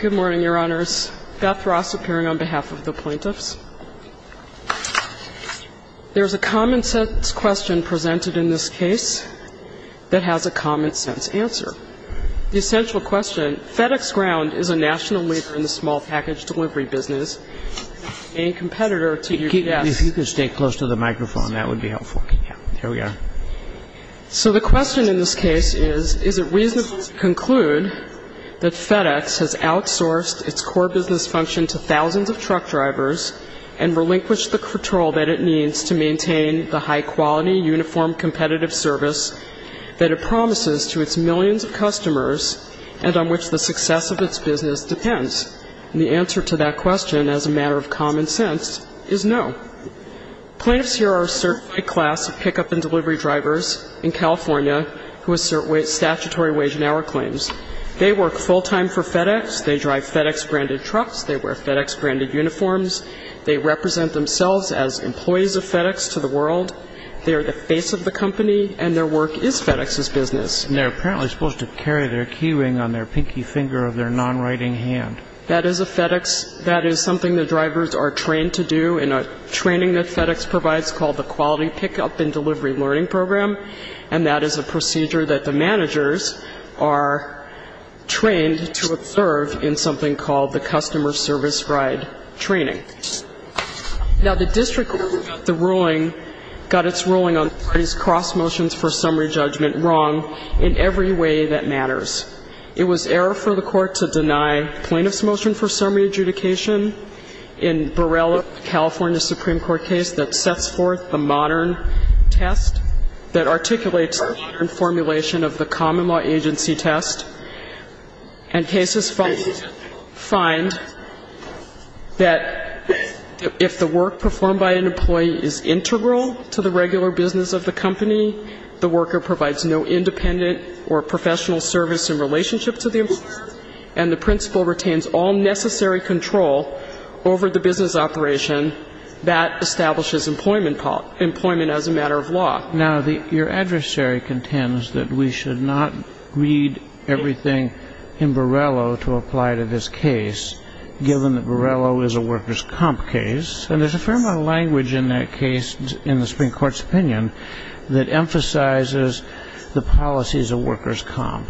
Good morning, Your Honors. Beth Ross appearing on behalf of the plaintiffs. There's a common-sense question presented in this case that has a common-sense answer. The essential question, FedEx Ground is a national leader in the small package delivery business and a competitor to UPS. If you could stay close to the microphone, that would be helpful. Yeah, there we are. So the question in this case is, is it reasonable to conclude that FedEx has outsourced its core business function to thousands of truck drivers and relinquished the control that it needs to maintain the high-quality, uniform, competitive service that it promises to its millions of customers and on which the success of its business depends? And the answer to that question, as a matter of common sense, is no. Plaintiffs here are a certified class of pickup and delivery drivers in California who assert statutory wage and hour claims. They work full-time for FedEx. They drive FedEx-branded trucks. They wear FedEx-branded uniforms. They represent themselves as employees of FedEx to the world. They are the face of the company, and their work is FedEx's business. And they're apparently supposed to carry their key ring on their pinky finger of their non-writing hand. That is a FedEx. That is something the drivers are trained to do in a training that FedEx provides called the Quality Pickup and Delivery Learning Program, and that is a procedure that the managers are trained to observe in something called the Customer Service Ride Training. Now, the district court got the ruling, got its ruling on these cross-motions for summary judgment wrong in every way that matters. It was error for the court to deny plaintiff's motion for summary adjudication in Borrella, California, Supreme Court case that sets forth the modern test that articulates the modern formulation of the common law agency test. And cases find that if the work performed by an employee is integral to the regular business of the company, the worker provides no independent or professional service in relationship to the employer, and the principal retains all necessary control over the business operation that establishes employment as a matter of law. Now, your adversary contends that we should not read everything in Borrella to apply to this case, given that Borrella is a workers' comp case. And there's a fair amount of language in that case in the Supreme Court's opinion that emphasizes the policy is a workers' comp,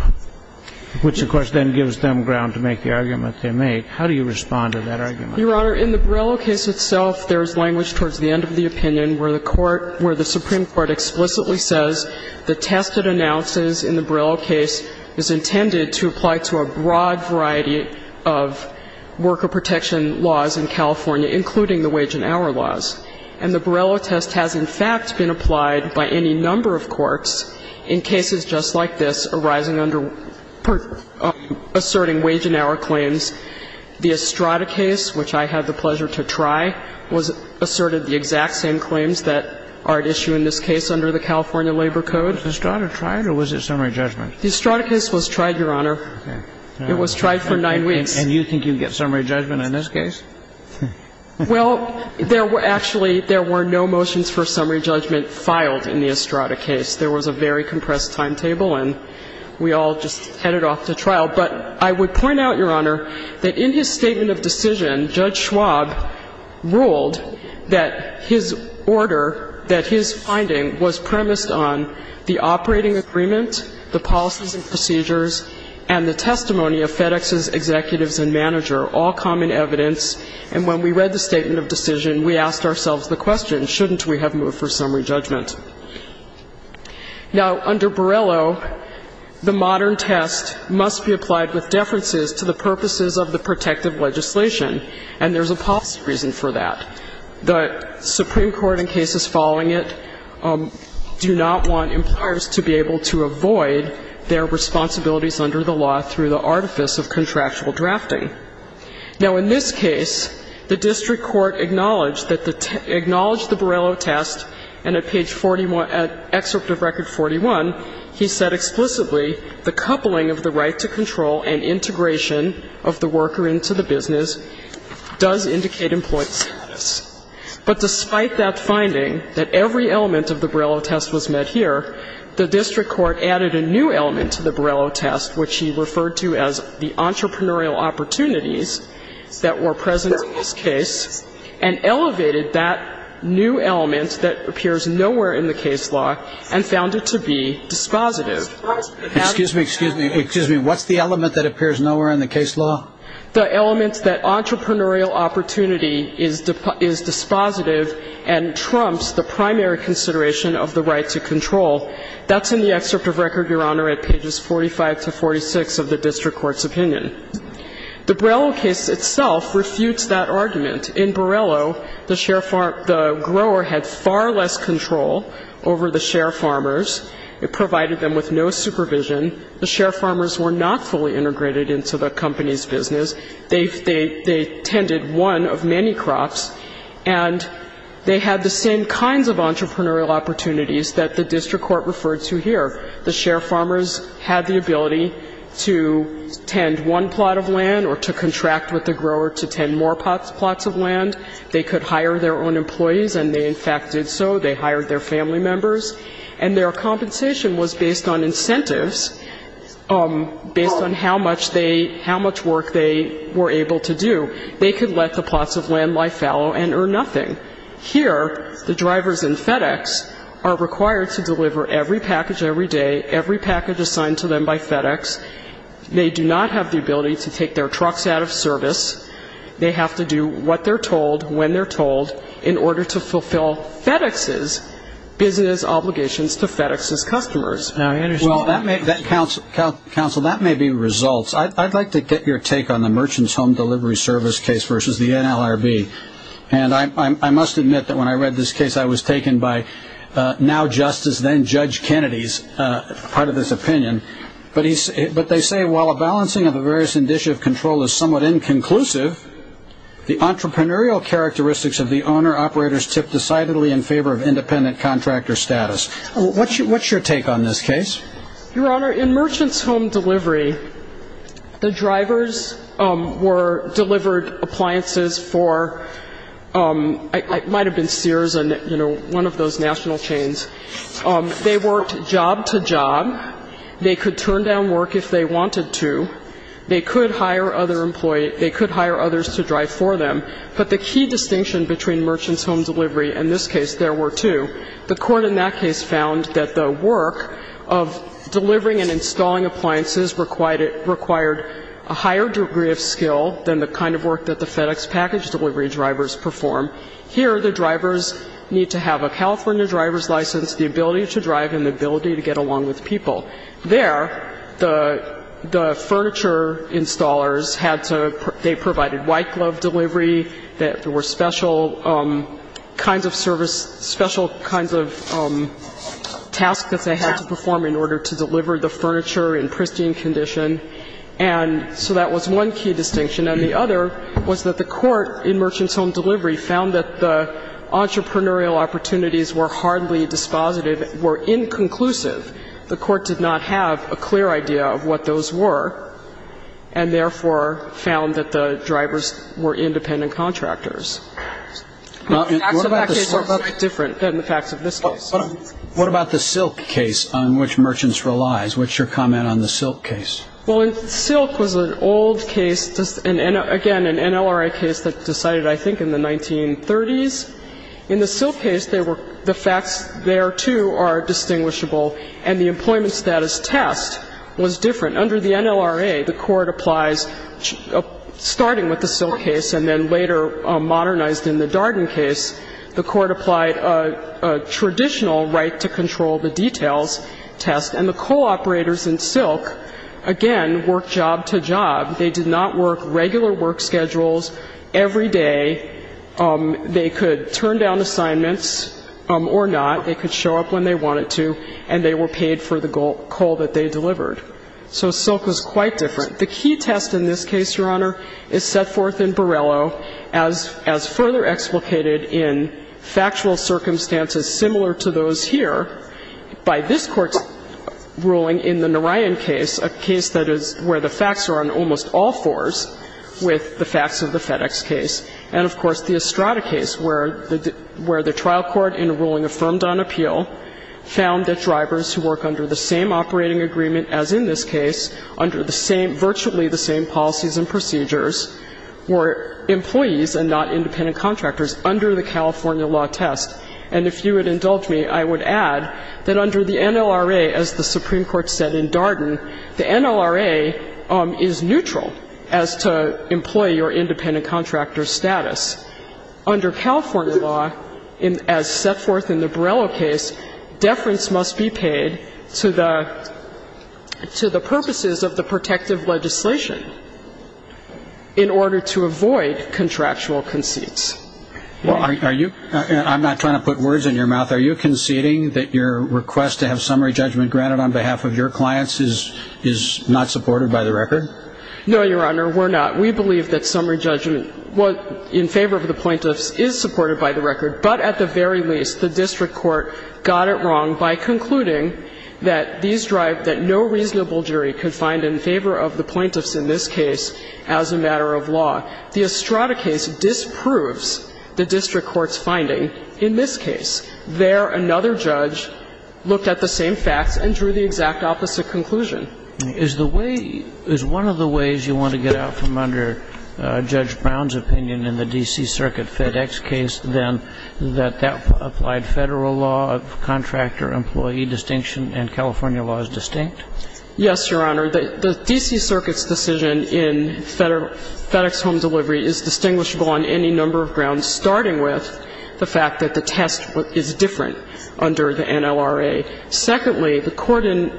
which, of course, then gives them ground to make the argument they make. How do you respond to that argument? Your Honor, in the Borrella case itself, there is language towards the end of the opinion where the Supreme Court explicitly says the test it announces in the Borrella case is intended to apply to a broad variety of worker protection laws in California, including the wage and hour laws. And the Borrella test has, in fact, been applied by any number of courts in cases just like this arising under asserting wage and hour claims. The Estrada case, which I had the pleasure to try, asserted the exact same claims that are at issue in this case under the California Labor Code. Was Estrada tried or was it summary judgment? The Estrada case was tried, Your Honor. Okay. It was tried for nine weeks. And you think you get summary judgment in this case? Well, there were actually no motions for summary judgment filed in the Estrada case. There was a very compressed timetable, and we all just headed off to trial. But I would point out, Your Honor, that in his statement of decision, Judge Schwab ruled that his order, that his finding, was premised on the operating agreement, the policies and procedures, and the testimony of FedEx's executives and manager, all common evidence. And when we read the statement of decision, we asked ourselves the question, shouldn't we have moved for summary judgment? Now, under Borello, the modern test must be applied with deferences to the purposes of the protective legislation, and there's a policy reason for that. The Supreme Court in cases following it do not want employers to be able to avoid their responsibilities under the law through the artifice of contractual drafting. Now, in this case, the district court acknowledged that the ‑‑ acknowledged the Borello test, and at page 41, at excerpt of record 41, he said explicitly, the coupling of the right to control and integration of the worker into the business does indicate employee status. But despite that finding, that every element of the Borello test was met here, the district court added a new element to the Borello test, which he referred to as the entrepreneurial opportunities that were present in this case, and elevated that new element that appears nowhere in the case law and found it to be dispositive. Excuse me, excuse me. Excuse me. What's the element that appears nowhere in the case law? The element that entrepreneurial opportunity is dispositive and trumps the primary consideration of the right to control. That's in the excerpt of record, Your Honor, at pages 45 to 46 of the district court's opinion. The Borello case itself refutes that argument. In Borello, the share ‑‑ the grower had far less control over the share farmers. It provided them with no supervision. The share farmers were not fully integrated into the company's business. They tended one of many crops. And they had the same kinds of entrepreneurial opportunities that the district court referred to here. The share farmers had the ability to tend one plot of land or to contract with the grower to tend more plots of land. They could hire their own employees, and they, in fact, did so. They hired their family members. And their compensation was based on incentives, based on how much they ‑‑ how much work they were able to do. They could let the plots of land lie fallow and earn nothing. Here, the drivers in FedEx are required to deliver every package every day, every package assigned to them by FedEx. They do not have the ability to take their trucks out of service. They have to do what they're told, when they're told, in order to fulfill FedEx's business obligations. Well, counsel, that may be results. I'd like to get your take on the Merchant's Home Delivery Service case versus the NLRB. And I must admit that when I read this case, I was taken by now Justice, then Judge Kennedy's part of this opinion. But they say, while a balancing of the various indicia of control is somewhat inconclusive, the entrepreneurial characteristics of the owner-operators tip decidedly in favor of independent contractor status. What's your take on this case? Your Honor, in Merchant's Home Delivery, the drivers were delivered appliances for ‑‑ it might have been Sears and, you know, one of those national chains. They worked job to job. They could turn down work if they wanted to. They could hire other employees. They could hire others to drive for them. But the key distinction between Merchant's Home Delivery and this case, there were two. The court in that case found that the work of delivering and installing appliances required a higher degree of skill than the kind of work that the FedEx package delivery drivers perform. Here, the drivers need to have a California driver's license, the ability to drive, and the ability to get along with people. There, the furniture installers had to ‑‑ they provided white glove delivery. There were special kinds of service, special kinds of tasks that they had to perform in order to deliver the furniture in pristine condition. And so that was one key distinction. And the other was that the court in Merchant's Home Delivery found that the entrepreneurial opportunities were hardly dispositive, were inconclusive. The court did not have a clear idea of what those were, and therefore found that the drivers were independent contractors. The facts of that case are quite different than the facts of this case. What about the Silk case on which Merchant's relies? What's your comment on the Silk case? Well, Silk was an old case, again, an NLRI case that decided, I think, in the 1930s. In the Silk case, the facts there, too, are distinguishable, and the employment status test was different. Under the NLRI, the court applies, starting with the Silk case and then later modernized in the Darden case, the court applied a traditional right to control the details test. And the co‑operators in Silk, again, worked job to job. They did not work regular work schedules every day. They could turn down assignments or not. They could show up when they wanted to, and they were paid for the coal that they delivered. So Silk was quite different. The key test in this case, Your Honor, is set forth in Borello as further explicated in factual circumstances similar to those here by this Court's ruling in the Narayan case, a case that is where the facts are on almost all fours with the facts of the FedEx case, and, of course, the Estrada case where the trial court in a ruling affirmed on appeal found that drivers who work under the same operating agreement as in this case, under the same ‑‑ virtually the same policies and procedures, were employees and not independent contractors under the California law test. And if you would indulge me, I would add that under the NLRA, as the Supreme Court said in Darden, the NLRA is neutral as to employee or independent contractor status. Under California law, as set forth in the Borello case, deference must be paid to the purposes of the protective legislation in order to avoid contractual conceits. Well, are you ‑‑ I'm not trying to put words in your mouth. Are you conceding that your request to have summary judgment granted on behalf of your clients is not supported by the record? No, Your Honor, we're not. We believe that summary judgment in favor of the plaintiffs is supported by the record. But at the very least, the district court got it wrong by concluding that these drive that no reasonable jury could find in favor of the plaintiffs in this case as a matter of law. The Estrada case disproves the district court's finding in this case. There, another judge looked at the same facts and drew the exact opposite conclusion. Is the way ‑‑ is one of the ways you want to get out from under Judge Brown's opinion in the D.C. Circuit FedEx case, then, that that applied Federal law of contractor employee distinction and California law is distinct? Yes, Your Honor. The D.C. Circuit's decision in FedEx home delivery is distinguishable on any number of grounds, starting with the fact that the test is different under the NLRA. Secondly, the court in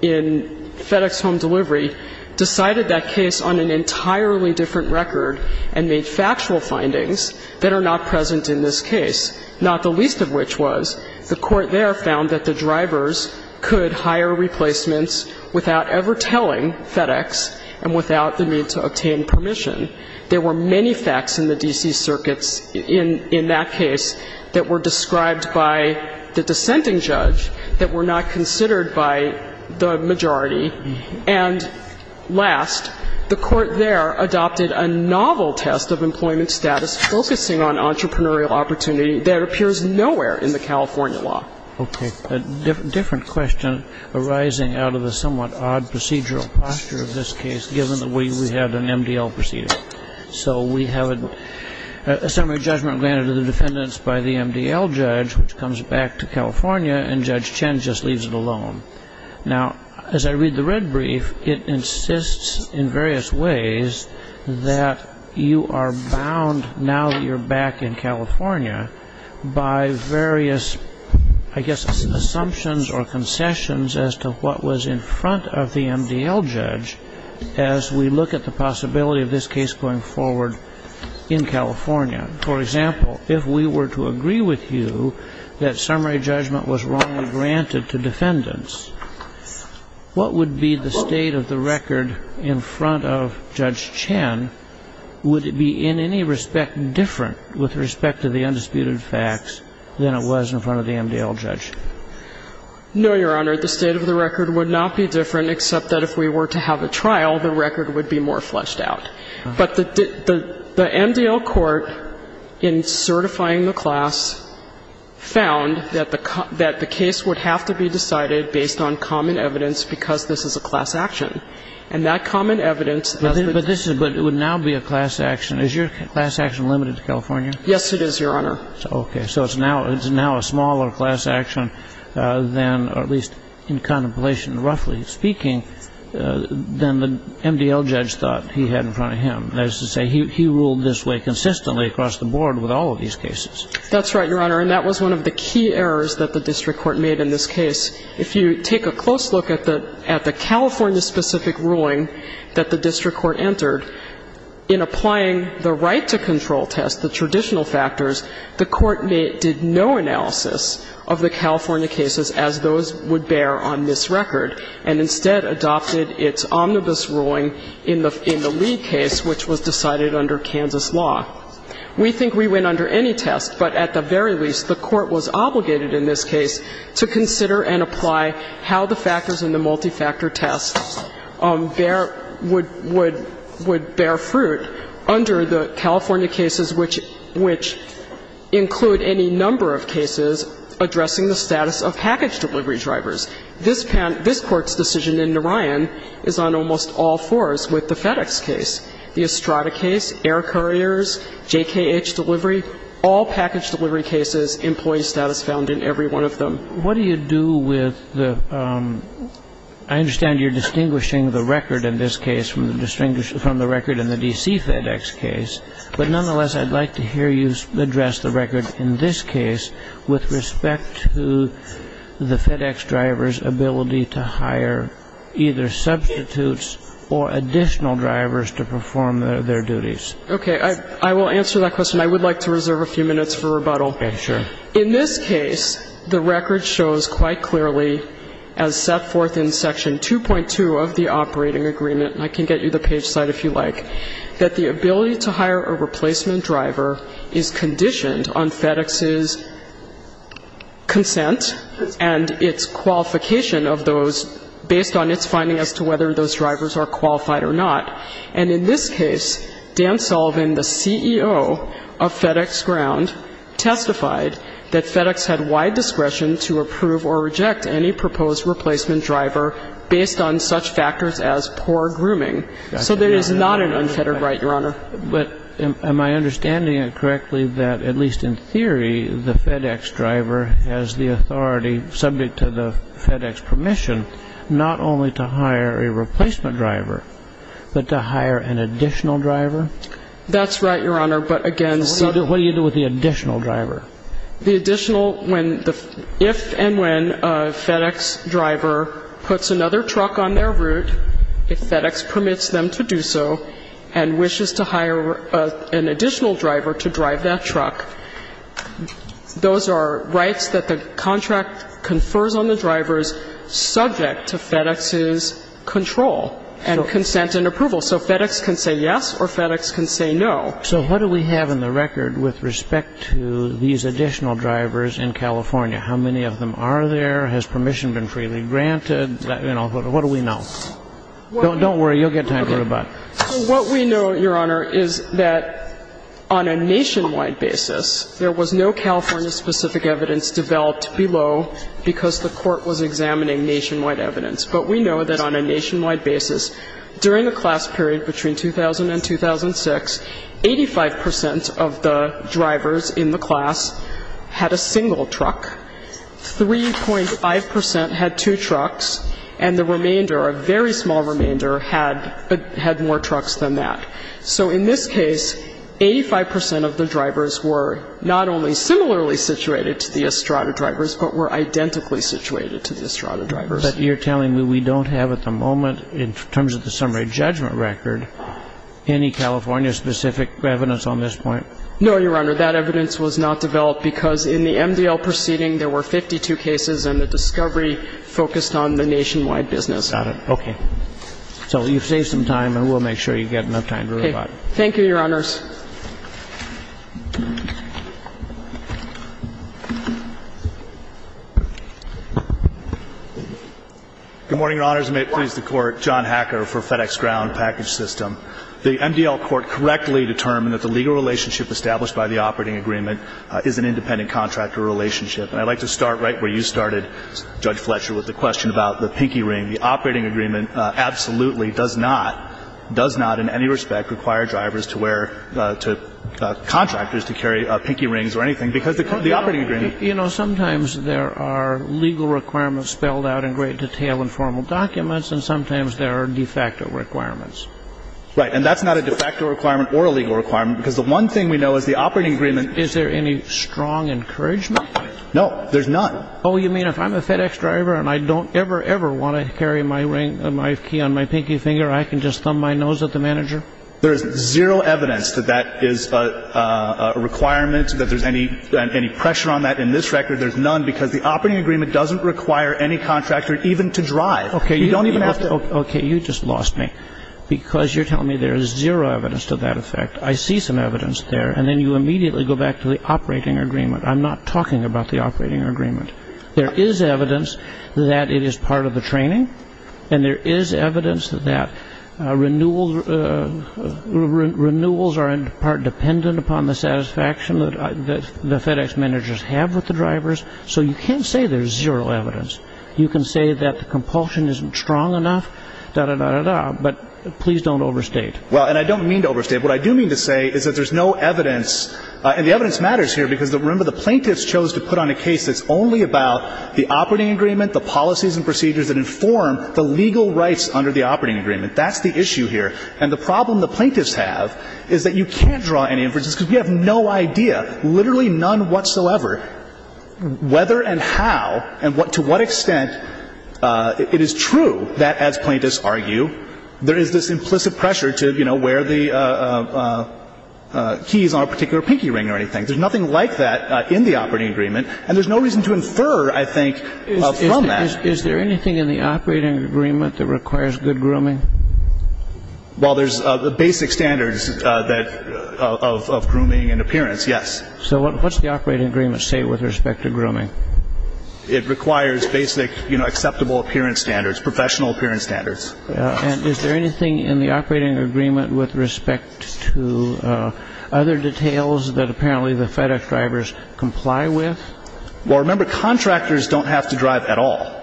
FedEx home delivery decided that case on an entirely different record and made factual findings that are not present in this case, not the least of which was the court there found that the drivers could hire replacements without ever telling FedEx and without the need to obtain permission. There were many facts in the D.C. Circuit's ‑‑ in that case that were described by the dissenting judge that were not considered by the majority. And last, the court there adopted a novel test of employment status focusing on entrepreneurial opportunity that appears nowhere in the California law. Okay. A different question arising out of the somewhat odd procedural posture of this case, given the way we had an MDL procedure. So we have a summary judgment granted to the defendants by the MDL judge, which comes back to California, and Judge Chen just leaves it alone. Now, as I read the red brief, it insists in various ways that you are bound, now that you're back in California, by various, I guess, assumptions or concessions as to what was in front of the MDL judge as we look at the possibility of this case going forward in California. For example, if we were to agree with you that summary judgment was wrongly granted to defendants, what would be the state of the record in front of Judge Chen? Would it be in any respect different with respect to the undisputed facts than it was in front of the MDL judge? No, Your Honor. The state of the record would not be different, except that if we were to have a trial, the record would be more fleshed out. But the MDL court, in certifying the class, found that the case would have to be decided based on common evidence because this is a class action. And that common evidence as we... But it would now be a class action. Is your class action limited to California? Yes, it is, Your Honor. Okay. So it's now a smaller class action than, or at least in contemplation, roughly speaking, than the MDL judge thought he had in front of him. That is to say, he ruled this way consistently across the board with all of these cases. That's right, Your Honor. And that was one of the key errors that the district court made in this case. If you take a close look at the California-specific ruling that the district court entered, in applying the right-to-control test, the traditional factors, the court did no analysis of the California cases as those would bear on this record, and instead adopted its omnibus ruling in the Lee case, which was decided under Kansas law. We think we went under any test, but at the very least, the court was obligated in this case to consider and apply how the factors in the multi-factor test would bear fruit under the California cases, which include any number of cases addressing the status of package delivery drivers. This court's decision in Narayan is on almost all fours with the FedEx case, the Estrada case, air couriers, JKH delivery, all package delivery cases, employee status found in every one of them. What do you do with the ‑‑ I understand you're distinguishing the record in this case from the record in the D.C. FedEx case, but nonetheless, I'd like to hear you address the record in this case with respect to the FedEx driver's ability to hire either substitutes or additional drivers to perform their duties. Okay. I will answer that question. I would like to reserve a few minutes for rebuttal. Okay. In this case, the record shows quite clearly as set forth in Section 2.2 of the operating agreement, and I can get you the page slide if you like, that the ability to hire a replacement driver is conditioned on FedEx's consent and its qualification of those based on its finding as to whether those drivers are qualified or not. And in this case, Dan Sullivan, the CEO of FedEx Ground, testified that FedEx had wide discretion to approve or reject any proposed replacement driver based on such factors as poor grooming. So there is not an unfettered right, Your Honor. But am I understanding it correctly that at least in theory, the FedEx driver has the authority, subject to the FedEx permission, not only to hire a replacement driver, but to hire an additional driver? That's right, Your Honor, but again ‑‑ What do you do with the additional driver? The additional ‑‑ when the ‑‑ if and when a FedEx driver puts another truck on their route, if FedEx permits them to do so and wishes to hire an additional driver to drive that truck, those are rights that the contract confers on the drivers subject to FedEx's control and consent and approval. So FedEx can say yes or FedEx can say no. So what do we have in the record with respect to these additional drivers in California? How many of them are there? Has permission been freely granted? You know, what do we know? Don't worry. You'll get time to rebut. What we know, Your Honor, is that on a nationwide basis, there was no California-specific evidence developed below because the court was examining nationwide evidence. But we know that on a nationwide basis, during the class period between 2000 and 2006, 85 percent of the drivers in the class had a single truck. 3.5 percent had two trucks. And the remainder, a very small remainder, had more trucks than that. So in this case, 85 percent of the drivers were not only similarly situated to the Estrada drivers, but were identically situated to the Estrada drivers. But you're telling me we don't have at the moment, in terms of the summary judgment record, any California-specific evidence on this point? No, Your Honor. That evidence was not developed because in the MDL proceeding, there were 52 cases, and the discovery focused on the nationwide business. Got it. Okay. So you've saved some time, and we'll make sure you get enough time to rebut. Thank you, Your Honors. Good morning, Your Honors. May it please the Court. John Hacker for FedEx Ground Package System. The MDL Court correctly determined that the legal relationship established by the operating agreement is an independent contractor relationship. And I'd like to start right where you started, Judge Fletcher, with the question about the pinky ring. The operating agreement absolutely does not, does not in any respect require drivers to wear to contractors to carry pinky rings or anything because the operating agreement. You know, sometimes there are legal requirements spelled out in great detail in formal documents, and sometimes there are de facto requirements. Right. And that's not a de facto requirement or a legal requirement because the one thing we know is the operating agreement. Is there any strong encouragement? No. There's none. Oh, you mean if I'm a FedEx driver and I don't ever, ever want to carry my ring, my key on my pinky finger, I can just thumb my nose at the manager? There is zero evidence that that is a requirement, that there's any pressure on that. In this record, there's none because the operating agreement doesn't require any Okay, you just lost me. Because you're telling me there is zero evidence to that effect. I see some evidence there, and then you immediately go back to the operating agreement. I'm not talking about the operating agreement. There is evidence that it is part of the training, and there is evidence that renewals are, in part, dependent upon the satisfaction that the FedEx managers have with the drivers. So you can't say there's zero evidence. You can say that the compulsion isn't strong enough, da-da-da-da-da, but please don't overstate. Well, and I don't mean to overstate. What I do mean to say is that there's no evidence, and the evidence matters here because, remember, the plaintiffs chose to put on a case that's only about the operating agreement, the policies and procedures that inform the legal rights under the operating agreement. That's the issue here. And the problem the plaintiffs have is that you can't draw any inferences because we have no idea, literally none whatsoever, whether and how and to what extent it is true that, as plaintiffs argue, there is this implicit pressure to, you know, wear the keys on a particular pinky ring or anything. There's nothing like that in the operating agreement, and there's no reason to infer, I think, from that. Is there anything in the operating agreement that requires good grooming? Well, there's the basic standards of grooming and appearance, yes. So what's the operating agreement say with respect to grooming? It requires basic, you know, acceptable appearance standards, professional appearance standards. And is there anything in the operating agreement with respect to other details that apparently the FedEx drivers comply with? Well, remember, contractors don't have to drive at all.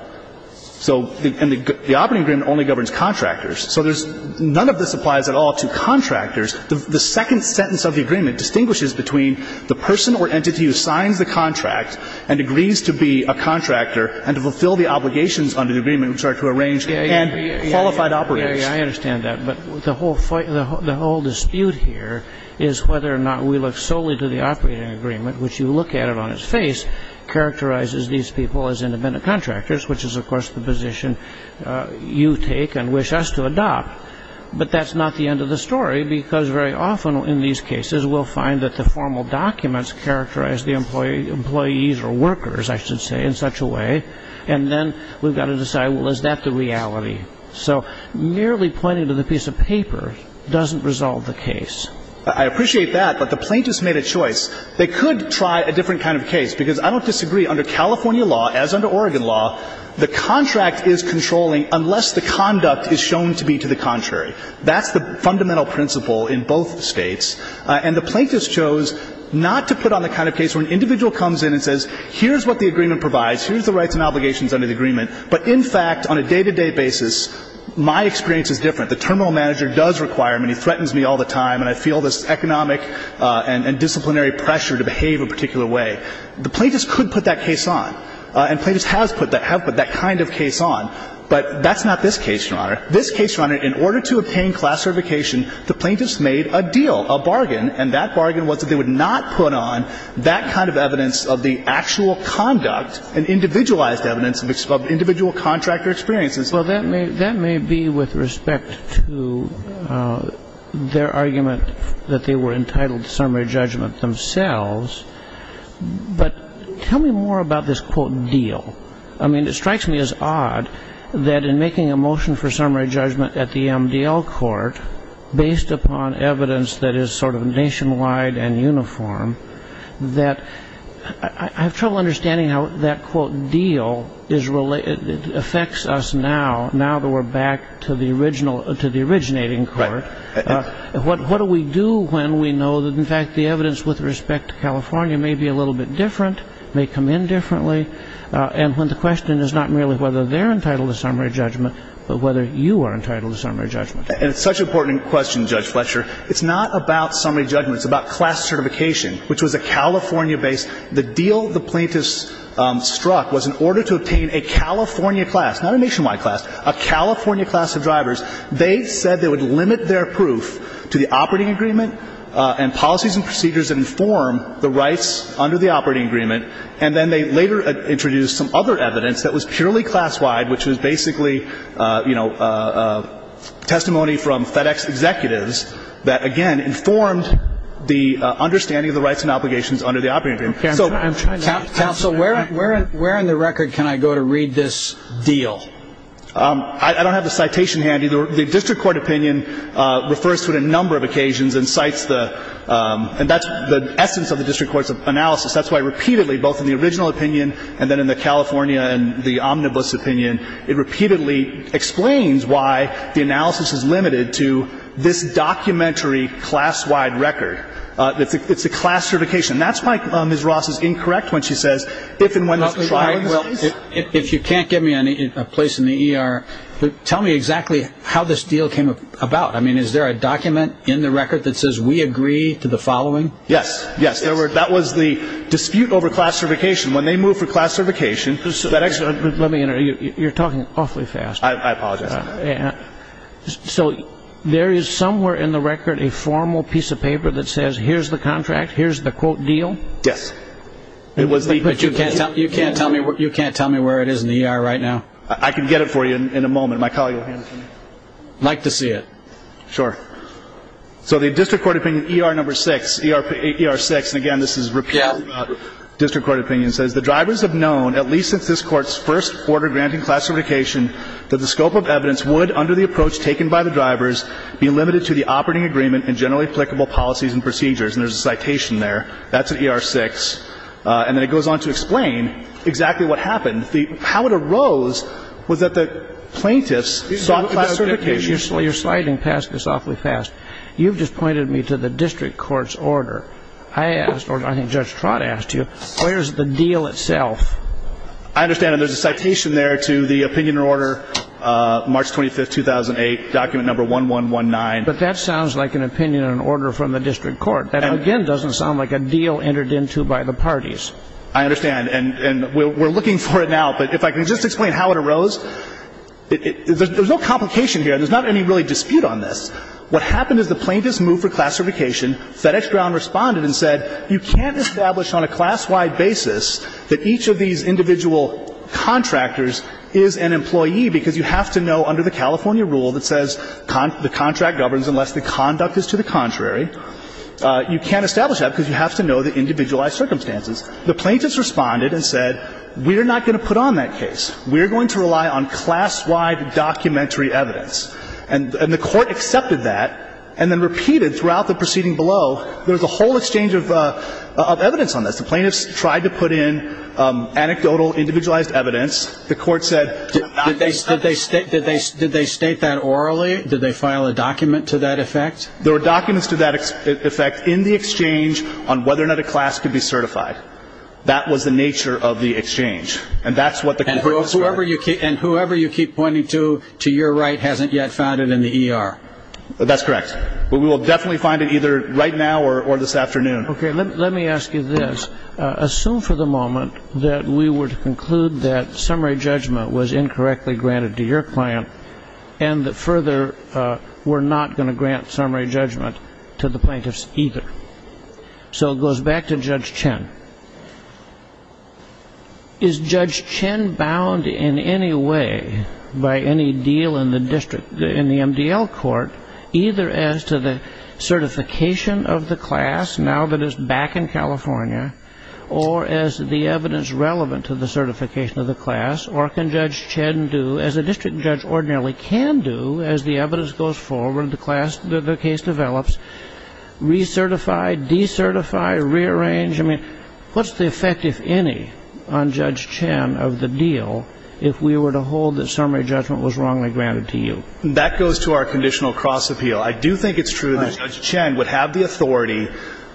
So the operating agreement only governs contractors. So there's none of this applies at all to contractors. The second sentence of the agreement distinguishes between the person or entity who signs the contract and agrees to be a contractor and to fulfill the obligations under the agreement, which are to arrange and be qualified operators. Yeah, yeah, I understand that. But the whole dispute here is whether or not we look solely to the operating agreement, which you look at it on its face, characterizes these people as independent contractors, which is, of course, the position you take and wish us to adopt. But that's not the end of the story, because very often in these cases we'll find that the formal documents characterize the employees or workers, I should say, in such a way. And then we've got to decide, well, is that the reality? So merely pointing to the piece of paper doesn't resolve the case. I appreciate that, but the plaintiffs made a choice. They could try a different kind of case, because I don't disagree. Under California law, as under Oregon law, the contract is controlling unless the conduct is shown to be to the contrary. That's the fundamental principle in both states. And the plaintiffs chose not to put on the kind of case where an individual comes in and says, here's what the agreement provides, here's the rights and obligations under the agreement. But, in fact, on a day-to-day basis, my experience is different. The terminal manager does require me, and he threatens me all the time, and I feel this economic and disciplinary pressure to behave a particular way. The plaintiffs could put that case on, and plaintiffs have put that kind of case on. But that's not this case, Your Honor. This case, Your Honor, in order to obtain class certification, the plaintiffs made a deal, a bargain, and that bargain was that they would not put on that kind of evidence of the actual conduct, an individualized evidence of individual contractor experiences. Well, that may be with respect to their argument that they were entitled to summary judgment themselves. But tell me more about this, quote, deal. I mean, it strikes me as odd that in making a motion for summary judgment at the MDL court, based upon evidence that is sort of nationwide and uniform, that I have trouble understanding how that, quote, deal affects us now, now that we're back to the originating court. Right. What do we do when we know that, in fact, the evidence with respect to California may be a little bit different, may come in differently, and when the question is not merely whether they're entitled to summary judgment, but whether you are entitled to summary judgment? It's such an important question, Judge Fletcher. It's not about summary judgment. It's about class certification, which was a California-based. The deal the plaintiffs struck was in order to obtain a California class, not a nationwide class, a California class of drivers, they said they would limit their proof to the operating agreement and policies and procedures that inform the rights under the operating agreement. And then they later introduced some other evidence that was purely class-wide, which was basically, you know, testimony from FedEx executives that, again, informed the understanding of the rights and obligations under the operating agreement. Counsel, where on the record can I go to read this deal? I don't have the citation handy. The district court opinion refers to it on a number of occasions and cites the essence of the district court's analysis. That's why repeatedly, both in the original opinion and then in the California and the omnibus opinion, it repeatedly explains why the analysis is limited to this documentary class-wide record. It's a class certification. That's why Ms. Ross is incorrect when she says if and when there's a trial in place. Well, if you can't give me a place in the ER, tell me exactly how this deal came about. I mean, is there a document in the record that says we agree to the following? Yes. Yes. That was the dispute over class certification. When they moved for class certification, that actually- Let me interrupt. You're talking awfully fast. I apologize. So there is somewhere in the record a formal piece of paper that says here's the contract, here's the, quote, deal? Yes. But you can't tell me where it is in the ER right now? I can get it for you in a moment. My colleague will hand it to me. I'd like to see it. Sure. So the district court opinion ER number 6, ER 6, and again, this is repeated district court opinion, says the drivers have known, at least since this Court's first order granting class certification, that the scope of evidence would, under the approach taken by the drivers, be limited to the operating agreement and generally applicable policies and procedures. And there's a citation there. That's at ER 6. And then it goes on to explain exactly what happened. How it arose was that the plaintiffs sought class certification. You're sliding past this awfully fast. You've just pointed me to the district court's order. I asked, or I think Judge Trott asked you, where's the deal itself? I understand. And there's a citation there to the opinion order, March 25, 2008, document number 1119. But that sounds like an opinion and order from the district court. That, again, doesn't sound like a deal entered into by the parties. I understand. But if I can just explain how it arose. There's no complication here. There's not any really dispute on this. What happened is the plaintiffs moved for class certification. FedEx Ground responded and said, you can't establish on a class-wide basis that each of these individual contractors is an employee, because you have to know, under the California rule that says the contract governs unless the conduct is to the contrary, you can't establish that because you have to know the individualized circumstances. The plaintiffs responded and said, we're not going to put on that case. We're going to rely on class-wide documentary evidence. And the court accepted that, and then repeated throughout the proceeding below, there's a whole exchange of evidence on this. The plaintiffs tried to put in anecdotal, individualized evidence. The court said. Did they state that orally? Did they file a document to that effect? There were documents to that effect in the exchange on whether or not a class could be certified. That was the nature of the exchange. And that's what the court was for. And whoever you keep pointing to, to your right, hasn't yet found it in the ER. That's correct. But we will definitely find it either right now or this afternoon. Okay. Let me ask you this. Assume for the moment that we were to conclude that summary judgment was incorrectly granted to your client, and that further, we're not going to grant summary judgment to the plaintiffs either. So it goes back to Judge Chen. Is Judge Chen bound in any way by any deal in the district, in the MDL court, either as to the certification of the class, now that it's back in California, or as the evidence relevant to the certification of the class? Or can Judge Chen do, as a district judge ordinarily can do, as the evidence goes forward, the class, the case develops, recertify, decertify, rearrange? I mean, what's the effect, if any, on Judge Chen of the deal if we were to hold that summary judgment was wrongly granted to you? That goes to our conditional cross-appeal. I do think it's true that Judge Chen would have the authority,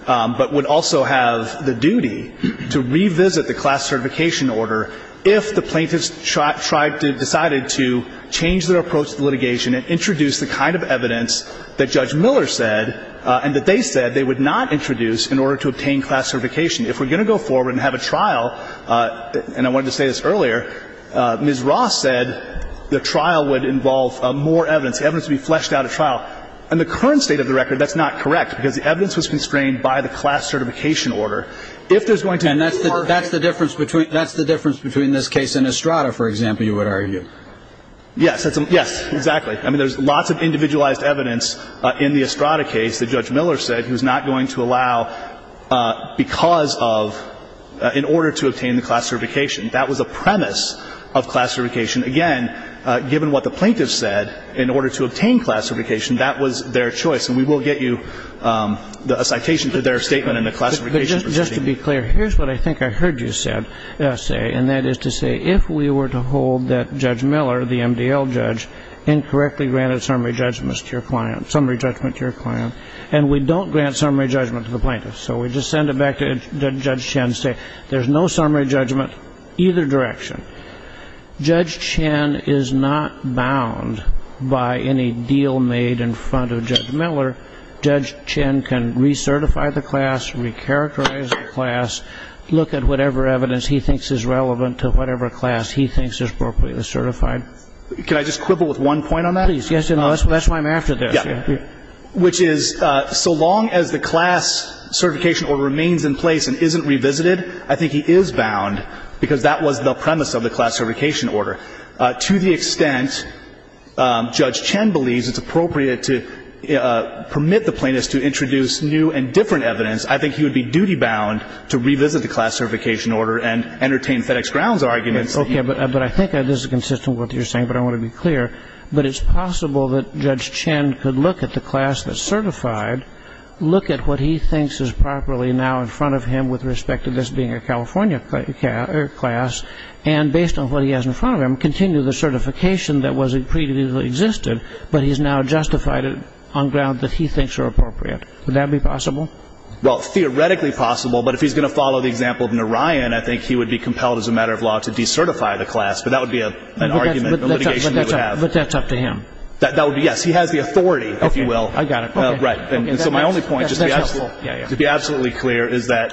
but would also have the duty, to revisit the class certification order if the plaintiffs decided to change their approach to litigation and introduce the kind of evidence that Judge Miller said, and that they said they would not introduce in order to obtain class certification. If we're going to go forward and have a trial, and I wanted to say this earlier, Ms. Ross said the trial would involve more evidence, evidence to be fleshed out at trial. In the current state of the record, that's not correct, because the evidence was constrained by the class certification order. If there's going to be more evidence. And that's the difference between this case and Estrada, for example, you would argue? Yes. Yes, exactly. I mean, there's lots of individualized evidence in the Estrada case that Judge Miller said he was not going to allow because of, in order to obtain the class certification. That was a premise of class certification. Again, given what the plaintiffs said, in order to obtain class certification, that was their choice. And we will get you a citation for their statement in the class certification proceeding. But just to be clear, here's what I think I heard you say, and that is to say if we were to hold that Judge Miller, the MDL judge, incorrectly granted summary judgments to your client, summary judgment to your client, and we don't grant summary judgment to the plaintiffs. So we just send it back to Judge Chen and say there's no summary judgment either direction. Judge Chen is not bound by any deal made in front of Judge Miller. Judge Chen can recertify the class, recharacterize the class, look at whatever evidence he thinks is relevant to whatever class he thinks is appropriately certified. Can I just quibble with one point on that? Please, yes. That's why I'm after this. Yeah. Which is so long as the class certification order remains in place and isn't revisited, I think he is bound because that was the premise of the class certification order. To the extent Judge Chen believes it's appropriate to permit the plaintiffs to introduce new and different evidence, I think he would be duty bound to revisit the class certification order and entertain FedEx Grounds arguments. Okay. But I think this is consistent with what you're saying, but I want to be clear. But it's possible that Judge Chen could look at the class that's certified, look at what he thinks is properly now in front of him with respect to this being a California class, and based on what he has in front of him, continue the certification that previously existed, but he's now justified it on ground that he thinks are appropriate. Would that be possible? Well, theoretically possible. But if he's going to follow the example of Narayan, I think he would be compelled as a matter of law to decertify the class. But that would be an argument, a litigation that we have. But that's up to him. That would be, yes. He has the authority, if you will. Okay. I got it. Okay. Right. And so my only point, just to be absolutely clear, is that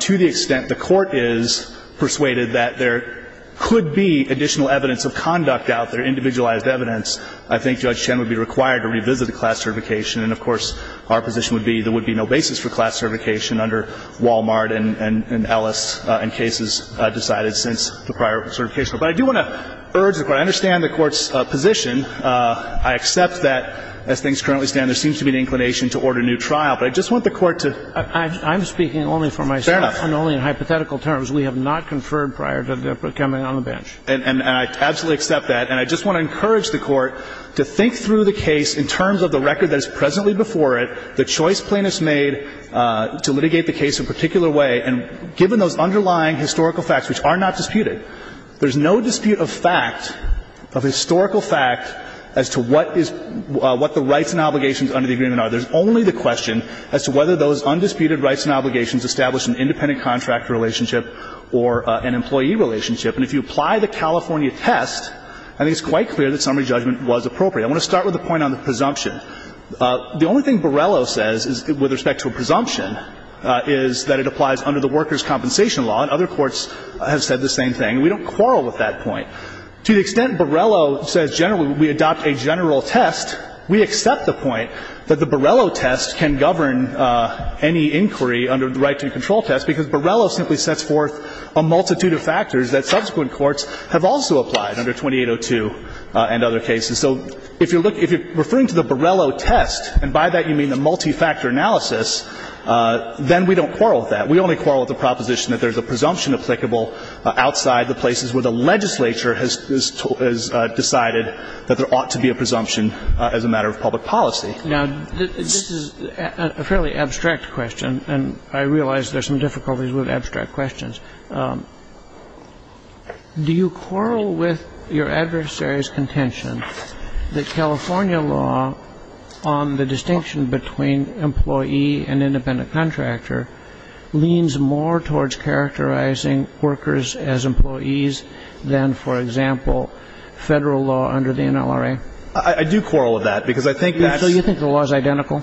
to the extent the court is persuaded that there could be additional evidence of conduct out there, individualized evidence, I think Judge Chen would be required to revisit the class certification. And, of course, our position would be there would be no basis for class certification under Wal-Mart and Ellis and cases decided since the prior certification. But I do want to urge the Court. I understand the Court's position. I accept that, as things currently stand, there seems to be an inclination to order a new trial. But I just want the Court to ---- I'm speaking only for myself. Fair enough. And only in hypothetical terms. We have not conferred prior to coming on the bench. And I absolutely accept that. And I just want to encourage the Court to think through the case in terms of the record that is presently before it, the choice plaintiffs made to litigate the case in a particular way. And given those underlying historical facts, which are not disputed, there's no dispute of fact, of historical fact, as to what is ---- what the rights and obligations under the agreement are. There's only the question as to whether those undisputed rights and obligations establish an independent contractor relationship or an employee relationship. And if you apply the California test, I think it's quite clear that summary judgment was appropriate. I want to start with a point on the presumption. The only thing Borello says with respect to a presumption is that it applies under the workers' compensation law. And other courts have said the same thing. We don't quarrel with that point. To the extent Borello says generally we adopt a general test, we accept the point that the Borello test can govern any inquiry under the right to control test, because Borello simply sets forth a multitude of factors that subsequent courts have also applied under 2802 and other cases. So if you're referring to the Borello test, and by that you mean the multi-factor analysis, then we don't quarrel with that. We only quarrel with the proposition that there's a presumption applicable outside the places where the legislature has decided that there ought to be a presumption as a matter of public policy. Now, this is a fairly abstract question, and I realize there's some difficulties with abstract questions. Do you quarrel with your adversary's contention that California law on the distinction between employee and independent contractor leans more towards characterizing workers as employees than, for example, Federal law under the NLRA? I do quarrel with that, because I think that's — So you think the law is identical?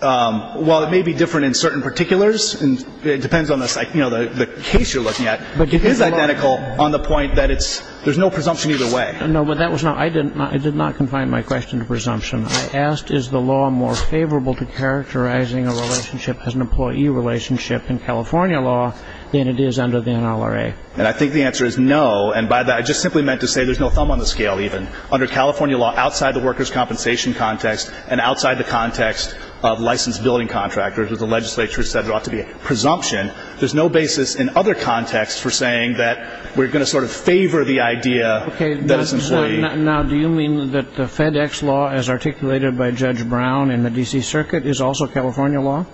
Well, it may be different in certain particulars. It depends on the case you're looking at. But it is identical on the point that it's — there's no presumption either way. No, but that was not — I did not confine my question to presumption. I asked is the law more favorable to characterizing a relationship as an employee relationship in California law than it is under the NLRA. And I think the answer is no, and by that I just simply meant to say there's no thumb on the scale even under California law outside the workers' compensation context and outside the context of licensed building contractors, which the legislature has said ought to be a presumption. There's no basis in other contexts for saying that we're going to sort of favor the idea that it's employee. Okay. Now, do you mean that the FedEx law as articulated by Judge Brown in the D.C. Circuit is also California law?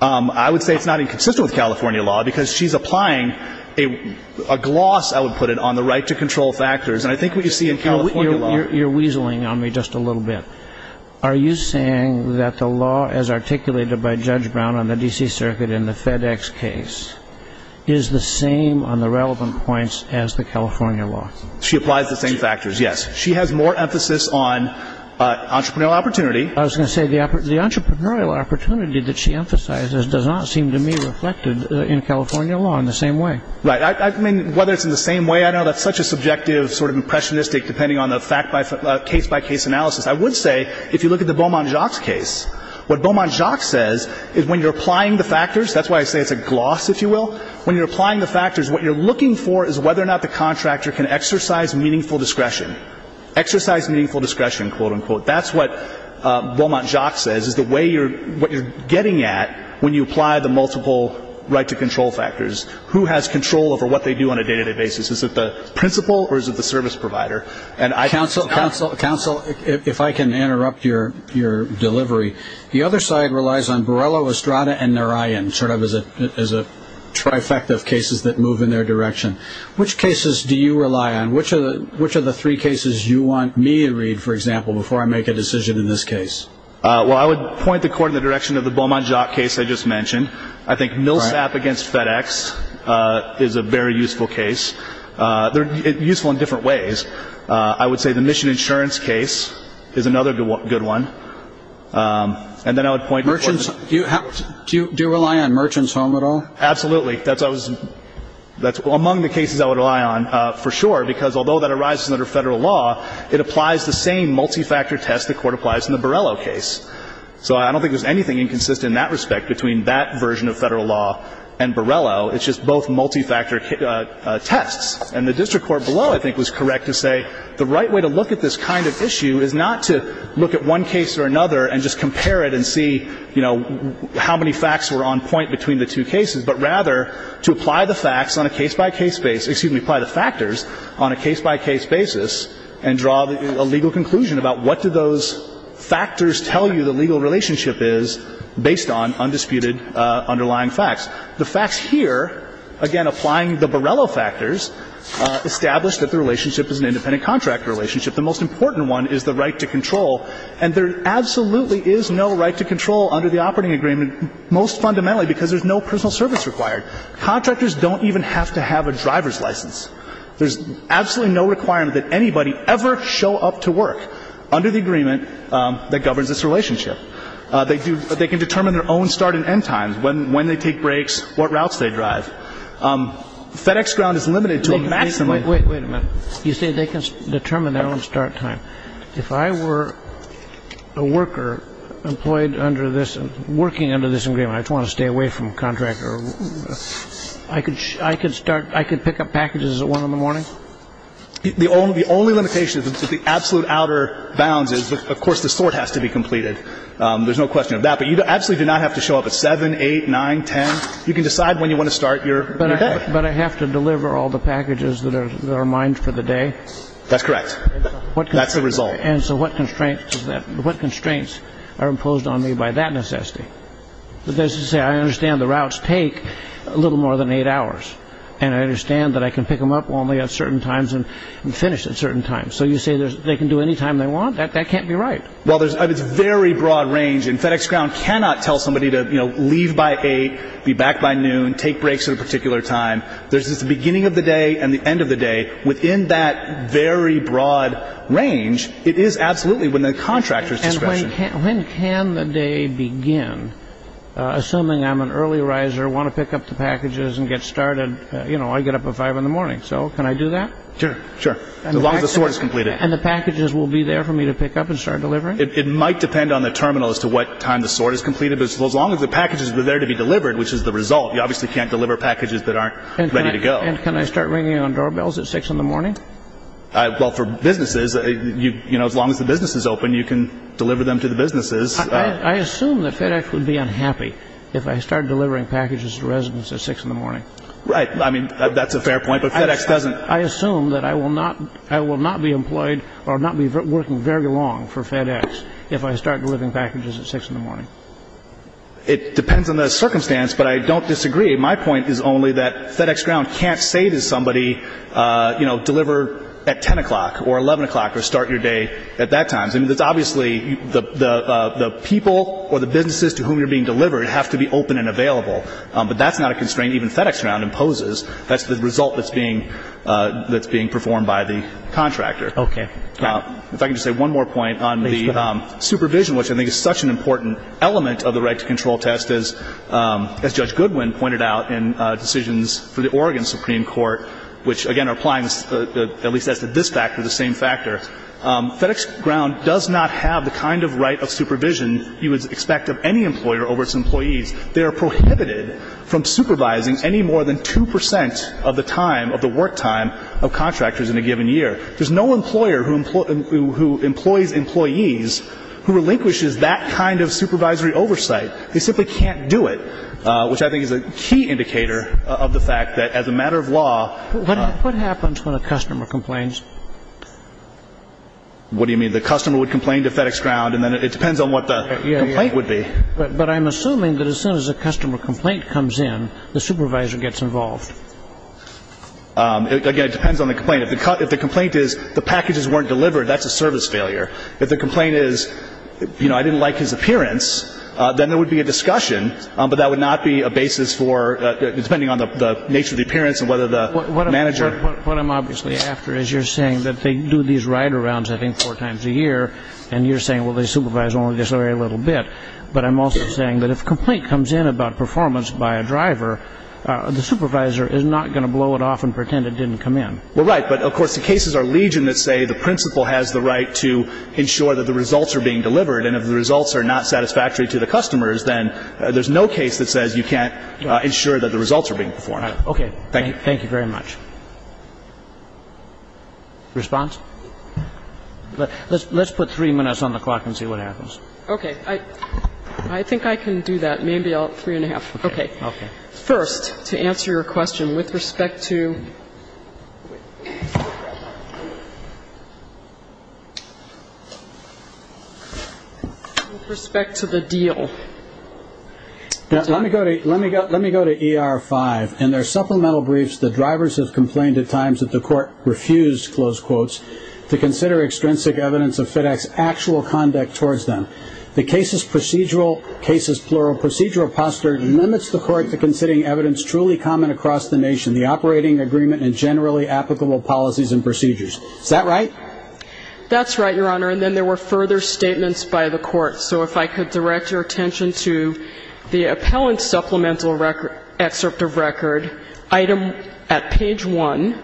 I would say it's not inconsistent with California law, because she's applying a gloss, I would put it, on the right to control factors. And I think what you see in California law — You're weaseling on me just a little bit. Are you saying that the law as articulated by Judge Brown on the D.C. Circuit in the FedEx case is the same on the relevant points as the California law? She applies the same factors, yes. She has more emphasis on entrepreneurial opportunity. I was going to say the entrepreneurial opportunity that she emphasizes does not seem to me reflected in California law in the same way. Right. I mean, whether it's in the same way, I don't know. That's such a subjective sort of impressionistic, depending on the case-by-case analysis. I would say, if you look at the Beaumont-Jacques case, what Beaumont-Jacques says is when you're applying the factors — that's why I say it's a gloss, if you will — when you're applying the factors, what you're looking for is whether or not the contractor can exercise meaningful discretion. Exercise meaningful discretion, quote, unquote. That's what Beaumont-Jacques says is the way you're — what you're getting at when you apply the multiple right to control factors. Who has control over what they do on a day-to-day basis? Is it the principal or is it the service provider? Counsel, if I can interrupt your delivery, the other side relies on Borrello, Estrada, and Narayan sort of as a trifecta of cases that move in their direction. Which cases do you rely on? Which of the three cases do you want me to read, for example, before I make a decision in this case? Well, I would point the court in the direction of the Beaumont-Jacques case I just mentioned. I think Millsap against FedEx is a very useful case. They're useful in different ways. I would say the Mission Insurance case is another good one. And then I would point the court — Merchants — do you rely on Merchants Home at all? Absolutely. That's — among the cases I would rely on, for sure, because although that arises under Federal law, it applies the same multi-factor test the court applies in the Borrello case. So I don't think there's anything inconsistent in that respect between that version of Federal law and Borrello. It's just both multi-factor tests. And the district court below I think was correct to say the right way to look at this kind of issue is not to look at one case or another and just compare it and see, you know, how many facts were on point between the two cases, but rather to apply the facts on a case-by-case basis — excuse me, apply the factors on a case-by-case basis and draw a legal conclusion about what do those factors tell you the legal relationship is based on undisputed underlying facts. The facts here, again, applying the Borrello factors, establish that the relationship is an independent contractor relationship. The most important one is the right to control. And there absolutely is no right to control under the operating agreement, most fundamentally because there's no personal service required. Contractors don't even have to have a driver's license. There's absolutely no requirement that anybody ever show up to work under the agreement that governs this relationship. They do — they can determine their own start and end times, when they take breaks, what routes they drive. FedEx ground is limited to a maximum. Wait a minute. You say they can determine their own start time. If I were a worker employed under this — working under this agreement, I just want to stay away from a contractor. I could start — I could pick up packages at 1 in the morning? The only limitation is that the absolute outer bounds is, of course, the sort has to be completed. There's no question of that. But you absolutely do not have to show up at 7, 8, 9, 10. You can decide when you want to start your day. But I have to deliver all the packages that are mined for the day? That's correct. That's the result. And so what constraints are imposed on me by that necessity? That is to say, I understand the routes take a little more than eight hours. And I understand that I can pick them up only at certain times and finish at certain times. So you say they can do any time they want? That can't be right. Well, there's — it's very broad range. And FedEx ground cannot tell somebody to, you know, leave by 8, be back by noon, take breaks at a particular time. There's this beginning of the day and the end of the day. Within that very broad range, it is absolutely within the contractor's discretion. When can the day begin? Assuming I'm an early riser, want to pick up the packages and get started, you know, I get up at 5 in the morning. So can I do that? Sure, sure. As long as the sort is completed. And the packages will be there for me to pick up and start delivering? It might depend on the terminal as to what time the sort is completed. But as long as the packages are there to be delivered, which is the result, you obviously can't deliver packages that aren't ready to go. And can I start ringing on doorbells at 6 in the morning? Well, for businesses, you know, as long as the business is open, you can deliver them to the businesses. I assume that FedEx would be unhappy if I started delivering packages to residents at 6 in the morning. Right. I mean, that's a fair point, but FedEx doesn't. I assume that I will not be employed or not be working very long for FedEx if I start delivering packages at 6 in the morning. It depends on the circumstance, but I don't disagree. My point is only that FedEx Ground can't say to somebody, you know, deliver at 10 o'clock or 11 o'clock or start your day at that time. I mean, it's obviously the people or the businesses to whom you're being delivered have to be open and available. But that's not a constraint even FedEx Ground imposes. That's the result that's being performed by the contractor. Okay. Now, if I can just say one more point on the supervision, which I think is such an important element of the right-to-control test, as Judge Goodwin pointed out in decisions for the Oregon Supreme Court, which, again, are applying at least as to this factor, the same factor. FedEx Ground does not have the kind of right of supervision you would expect of any employer over its employees. They are prohibited from supervising any more than 2 percent of the time, of the work time, of contractors in a given year. There's no employer who employs employees who relinquishes that kind of supervisory oversight. They simply can't do it, which I think is a key indicator of the fact that as a matter of law. What happens when a customer complains? What do you mean? The customer would complain to FedEx Ground, and then it depends on what the complaint would be. But I'm assuming that as soon as a customer complaint comes in, the supervisor gets involved. Again, it depends on the complaint. If the complaint is the packages weren't delivered, that's a service failure. If the complaint is, you know, I didn't like his appearance, then there would be a discussion, but that would not be a basis for, depending on the nature of the appearance and whether the manager. What I'm obviously after is you're saying that they do these ride-arounds, I think, four times a year, and you're saying, well, they supervise only this very little bit. But I'm also saying that if a complaint comes in about performance by a driver, the supervisor is not going to blow it off and pretend it didn't come in. Well, right. But, of course, the cases are legion that say the principal has the right to ensure that the results are being delivered. And if the results are not satisfactory to the customers, then there's no case that says you can't ensure that the results are being performed. Okay. Thank you. Thank you very much. Response? Let's put three minutes on the clock and see what happens. Okay. I think I can do that. Maybe three and a half. Okay. Okay. First, to answer your question, with respect to the deal. Let me go to ER-5. In their supplemental briefs, the drivers have complained at times that the court refused, close quotes, to consider extrinsic evidence of FedEx actual conduct towards them. The case's procedural, case's plural, procedural posture limits the court to considering evidence truly common across the nation, the operating agreement and generally applicable policies and procedures. Is that right? That's right, Your Honor. And then there were further statements by the court. So if I could direct your attention to the appellant's supplemental excerpt of record, item at page one.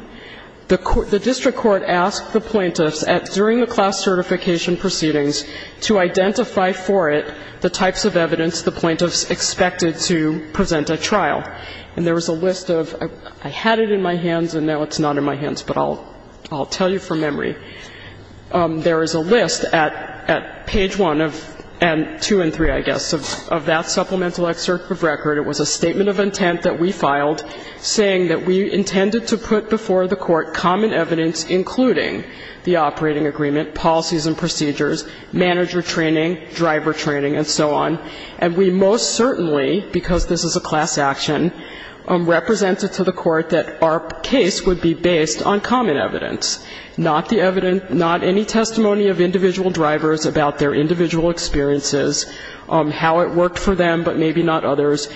The district court asked the plaintiffs, during the class certification proceedings, to identify for it the types of evidence the plaintiffs expected to present at trial. And there was a list of, I had it in my hands and now it's not in my hands, but I'll tell you from memory. There is a list at page one and two and three, I guess, of that supplemental excerpt of record. It was a statement of intent that we filed saying that we intended to put before the court common evidence, including the operating agreement, policies and procedures, manager training, driver training, and so on. And we most certainly, because this is a class action, represented to the court that our case would be based on common evidence, not the evidence, not any testimony of individual drivers about their individual experiences, how it worked for them, but maybe not others.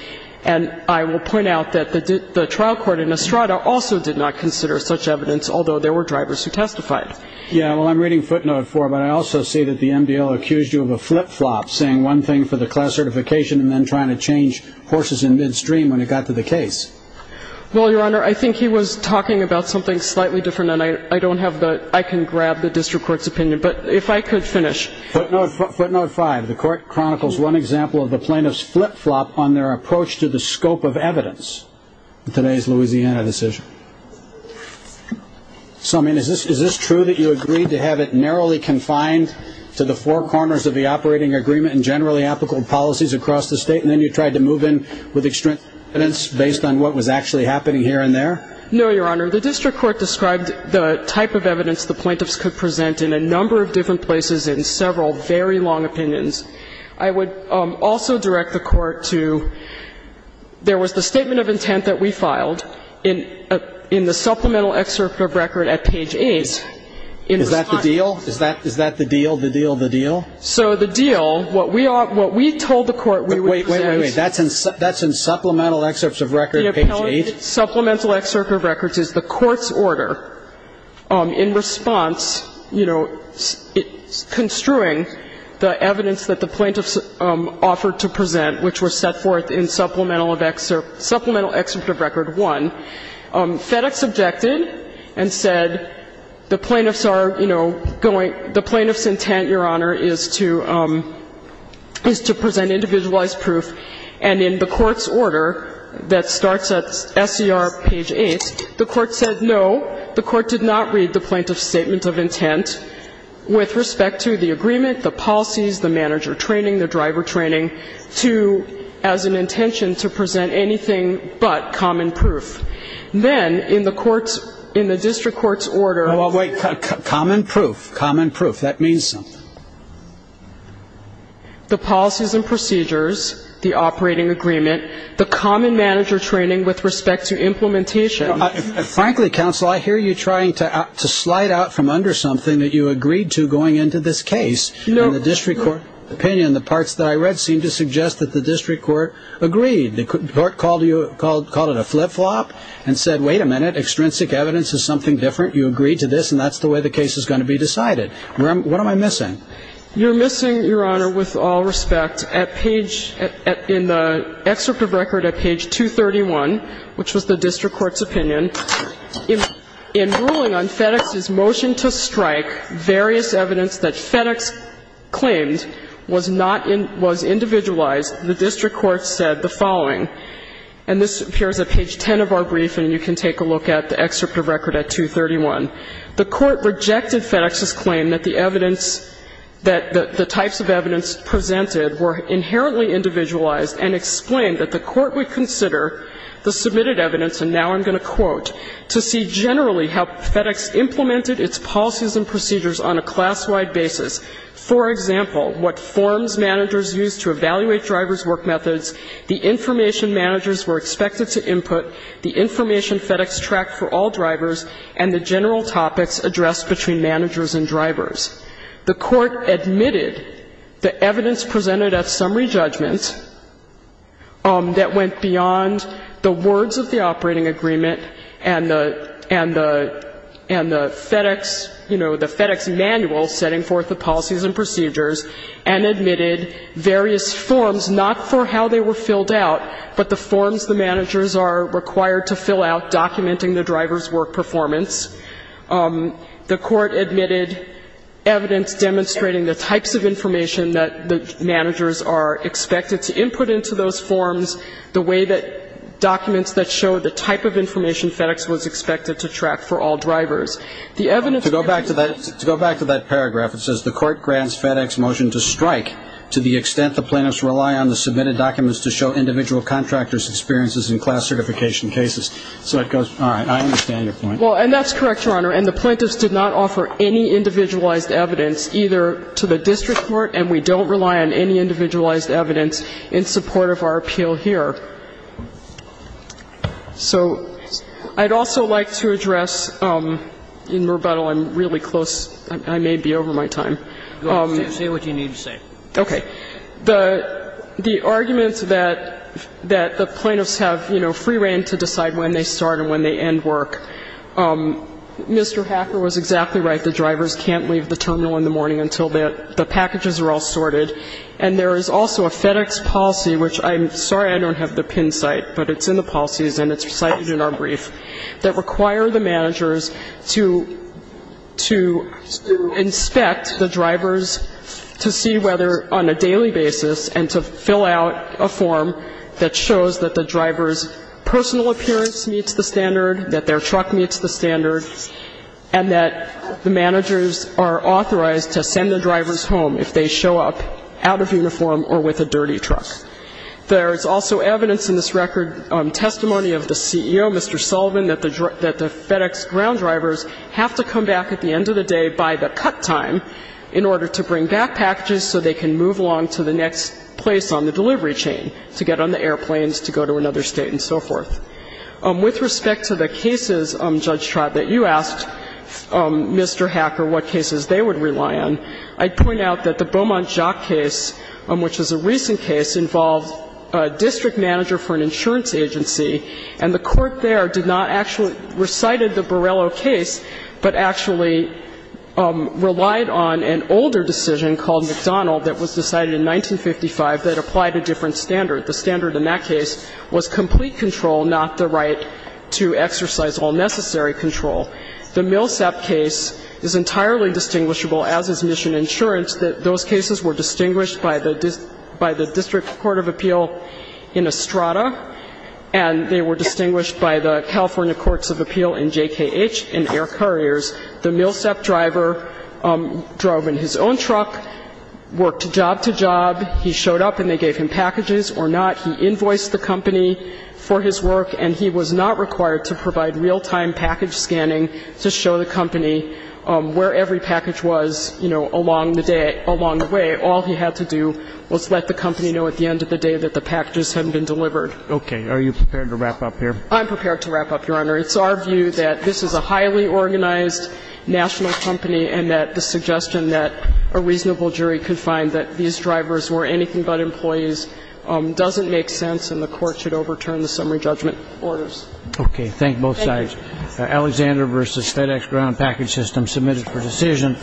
And I will point out that the trial court in Estrada also did not consider such evidence, although there were drivers who testified. Yeah, well, I'm reading footnote four, but I also see that the MDL accused you of a flip-flop saying one thing for the class certification and then trying to change horses in midstream when it got to the case. Well, Your Honor, I think he was talking about something slightly different, and I don't have the, I can grab the district court's opinion. But if I could finish. Footnote five, the court chronicles one example of the plaintiff's flip-flop on their approach to the scope of evidence in today's Louisiana decision. So, I mean, is this true that you agreed to have it narrowly confined to the four corners of the operating agreement and generally applicable policies across the state, and then you tried to move in with extreme evidence based on what was actually happening here and there? No, Your Honor. The district court described the type of evidence the plaintiffs could present in a number of different places in several very long opinions. I would also direct the Court to there was the statement of intent that we filed in the supplemental excerpt of record at page 8. Is that the deal? Is that the deal, the deal, the deal? So the deal, what we told the Court we would present. Wait, wait, wait. That's in supplemental excerpts of record page 8? The supplemental excerpt of records is the Court's order in response, you know, construing the evidence that the plaintiffs offered to present, which was set forth in supplemental of excerpt, supplemental excerpt of record 1. FedEx objected and said the plaintiffs are, you know, going, the plaintiffs' intent, Your Honor, is to present individualized proof. And in the Court's order that starts at SCR page 8, the Court said no. The Court did not read the plaintiff's statement of intent with respect to the agreement, the policies, the manager training, the driver training to, as an intention to present anything but common proof. Then in the Court's, in the district court's order. Well, wait. Common proof. Common proof. That means something. The policies and procedures, the operating agreement, the common manager training with respect to implementation. Frankly, Counsel, I hear you trying to slide out from under something that you agreed to going into this case. In the district court opinion, the parts that I read seem to suggest that the district court agreed. The Court called it a flip-flop and said, wait a minute, extrinsic evidence is something different. You agreed to this, and that's the way the case is going to be decided. What am I missing? You're missing, Your Honor, with all respect, at page, in the excerpt of record at page 231, which was the district court's opinion. In ruling on FedEx's motion to strike various evidence that FedEx claimed was not, was individualized, the district court said the following. And this appears at page 10 of our brief, and you can take a look at the excerpt of record at 231. The Court rejected FedEx's claim that the evidence, that the types of evidence presented were inherently individualized and explained that the Court would consider the submitted evidence, and now I'm going to quote, to see generally how FedEx implemented its policies and procedures on a class-wide basis. For example, what forms managers used to evaluate drivers' work methods, the information managers were expected to input, the information FedEx tracked for all drivers, and the general topics addressed between managers and drivers. The Court admitted the evidence presented at summary judgment that went beyond the words of the operating agreement and the, and the, and the FedEx, you know, the FedEx manual setting forth the policies and procedures, and admitted various forms, not for how they were filled out, but the forms the managers are required to fill out documenting the driver's work performance. The Court admitted evidence demonstrating the types of information that the managers are expected to input into those forms, the way that documents that show the type of information FedEx was expected to track for all drivers. The evidence that was used to track for all drivers. To go back to that, to go back to that paragraph, it says, the Court grants FedEx motion to strike to the extent the plaintiffs rely on the submitted documents to show individual contractors' experiences in class certification cases. So it goes, all right, I understand your point. Well, and that's correct, Your Honor. And the plaintiffs did not offer any individualized evidence either to the district court, and we don't rely on any individualized evidence in support of our appeal here. So I'd also like to address, in rebuttal, I'm really close, I may be over my time. Say what you need to say. Okay. The arguments that the plaintiffs have, you know, free reign to decide when they start and when they end work. Mr. Hacker was exactly right. The drivers can't leave the terminal in the morning until the packages are all sorted. And there is also a FedEx policy, which I'm sorry I don't have the pin site, but it's in the policies and it's cited in our brief, that require the managers to inspect the drivers to see whether on a daily basis and to fill out a form that shows that the driver's personal appearance meets the standard, that their truck meets the standard, and that the managers are authorized to send the drivers home if they show up out of uniform or with a dirty truck. There is also evidence in this record, testimony of the CEO, Mr. Sullivan, that the FedEx ground drivers have to come back at the end of the day by the cut time in order to bring back packages so they can move along to the next place on the delivery chain to get on the airplanes to go to another state and so forth. With respect to the cases, Judge Tribe, that you asked Mr. Hacker what cases they would rely on, I'd point out that the Beaumont-Jacques case, which is a recent case, involved a district manager for an insurance agency, and the court there did not actually recite the Borrello case, but actually relied on an older decision called McDonald that was decided in 1955 that applied a different standard. The standard in that case was complete control, not the right to exercise all necessary control. The Millsap case is entirely distinguishable as is mission insurance. Those cases were distinguished by the district court of appeal in Estrada, and they were distinguished by the California courts of appeal in JKH and Air Couriers. The Millsap driver drove in his own truck, worked job to job. He showed up, and they gave him packages or not. He invoiced the company for his work, and he was not required to provide real-time package scanning to show the company where every package was, you know, along the day, along the way. All he had to do was let the company know at the end of the day that the packages had been delivered. Okay. Are you prepared to wrap up here? I'm prepared to wrap up, Your Honor. It's our view that this is a highly organized national company and that the suggestion that a reasonable jury could find that these drivers were anything but employees doesn't make sense, and the court should overturn the summary judgment orders. Okay. Thank both sides. Alexander v. FedEx Ground Package System, submitted for decision.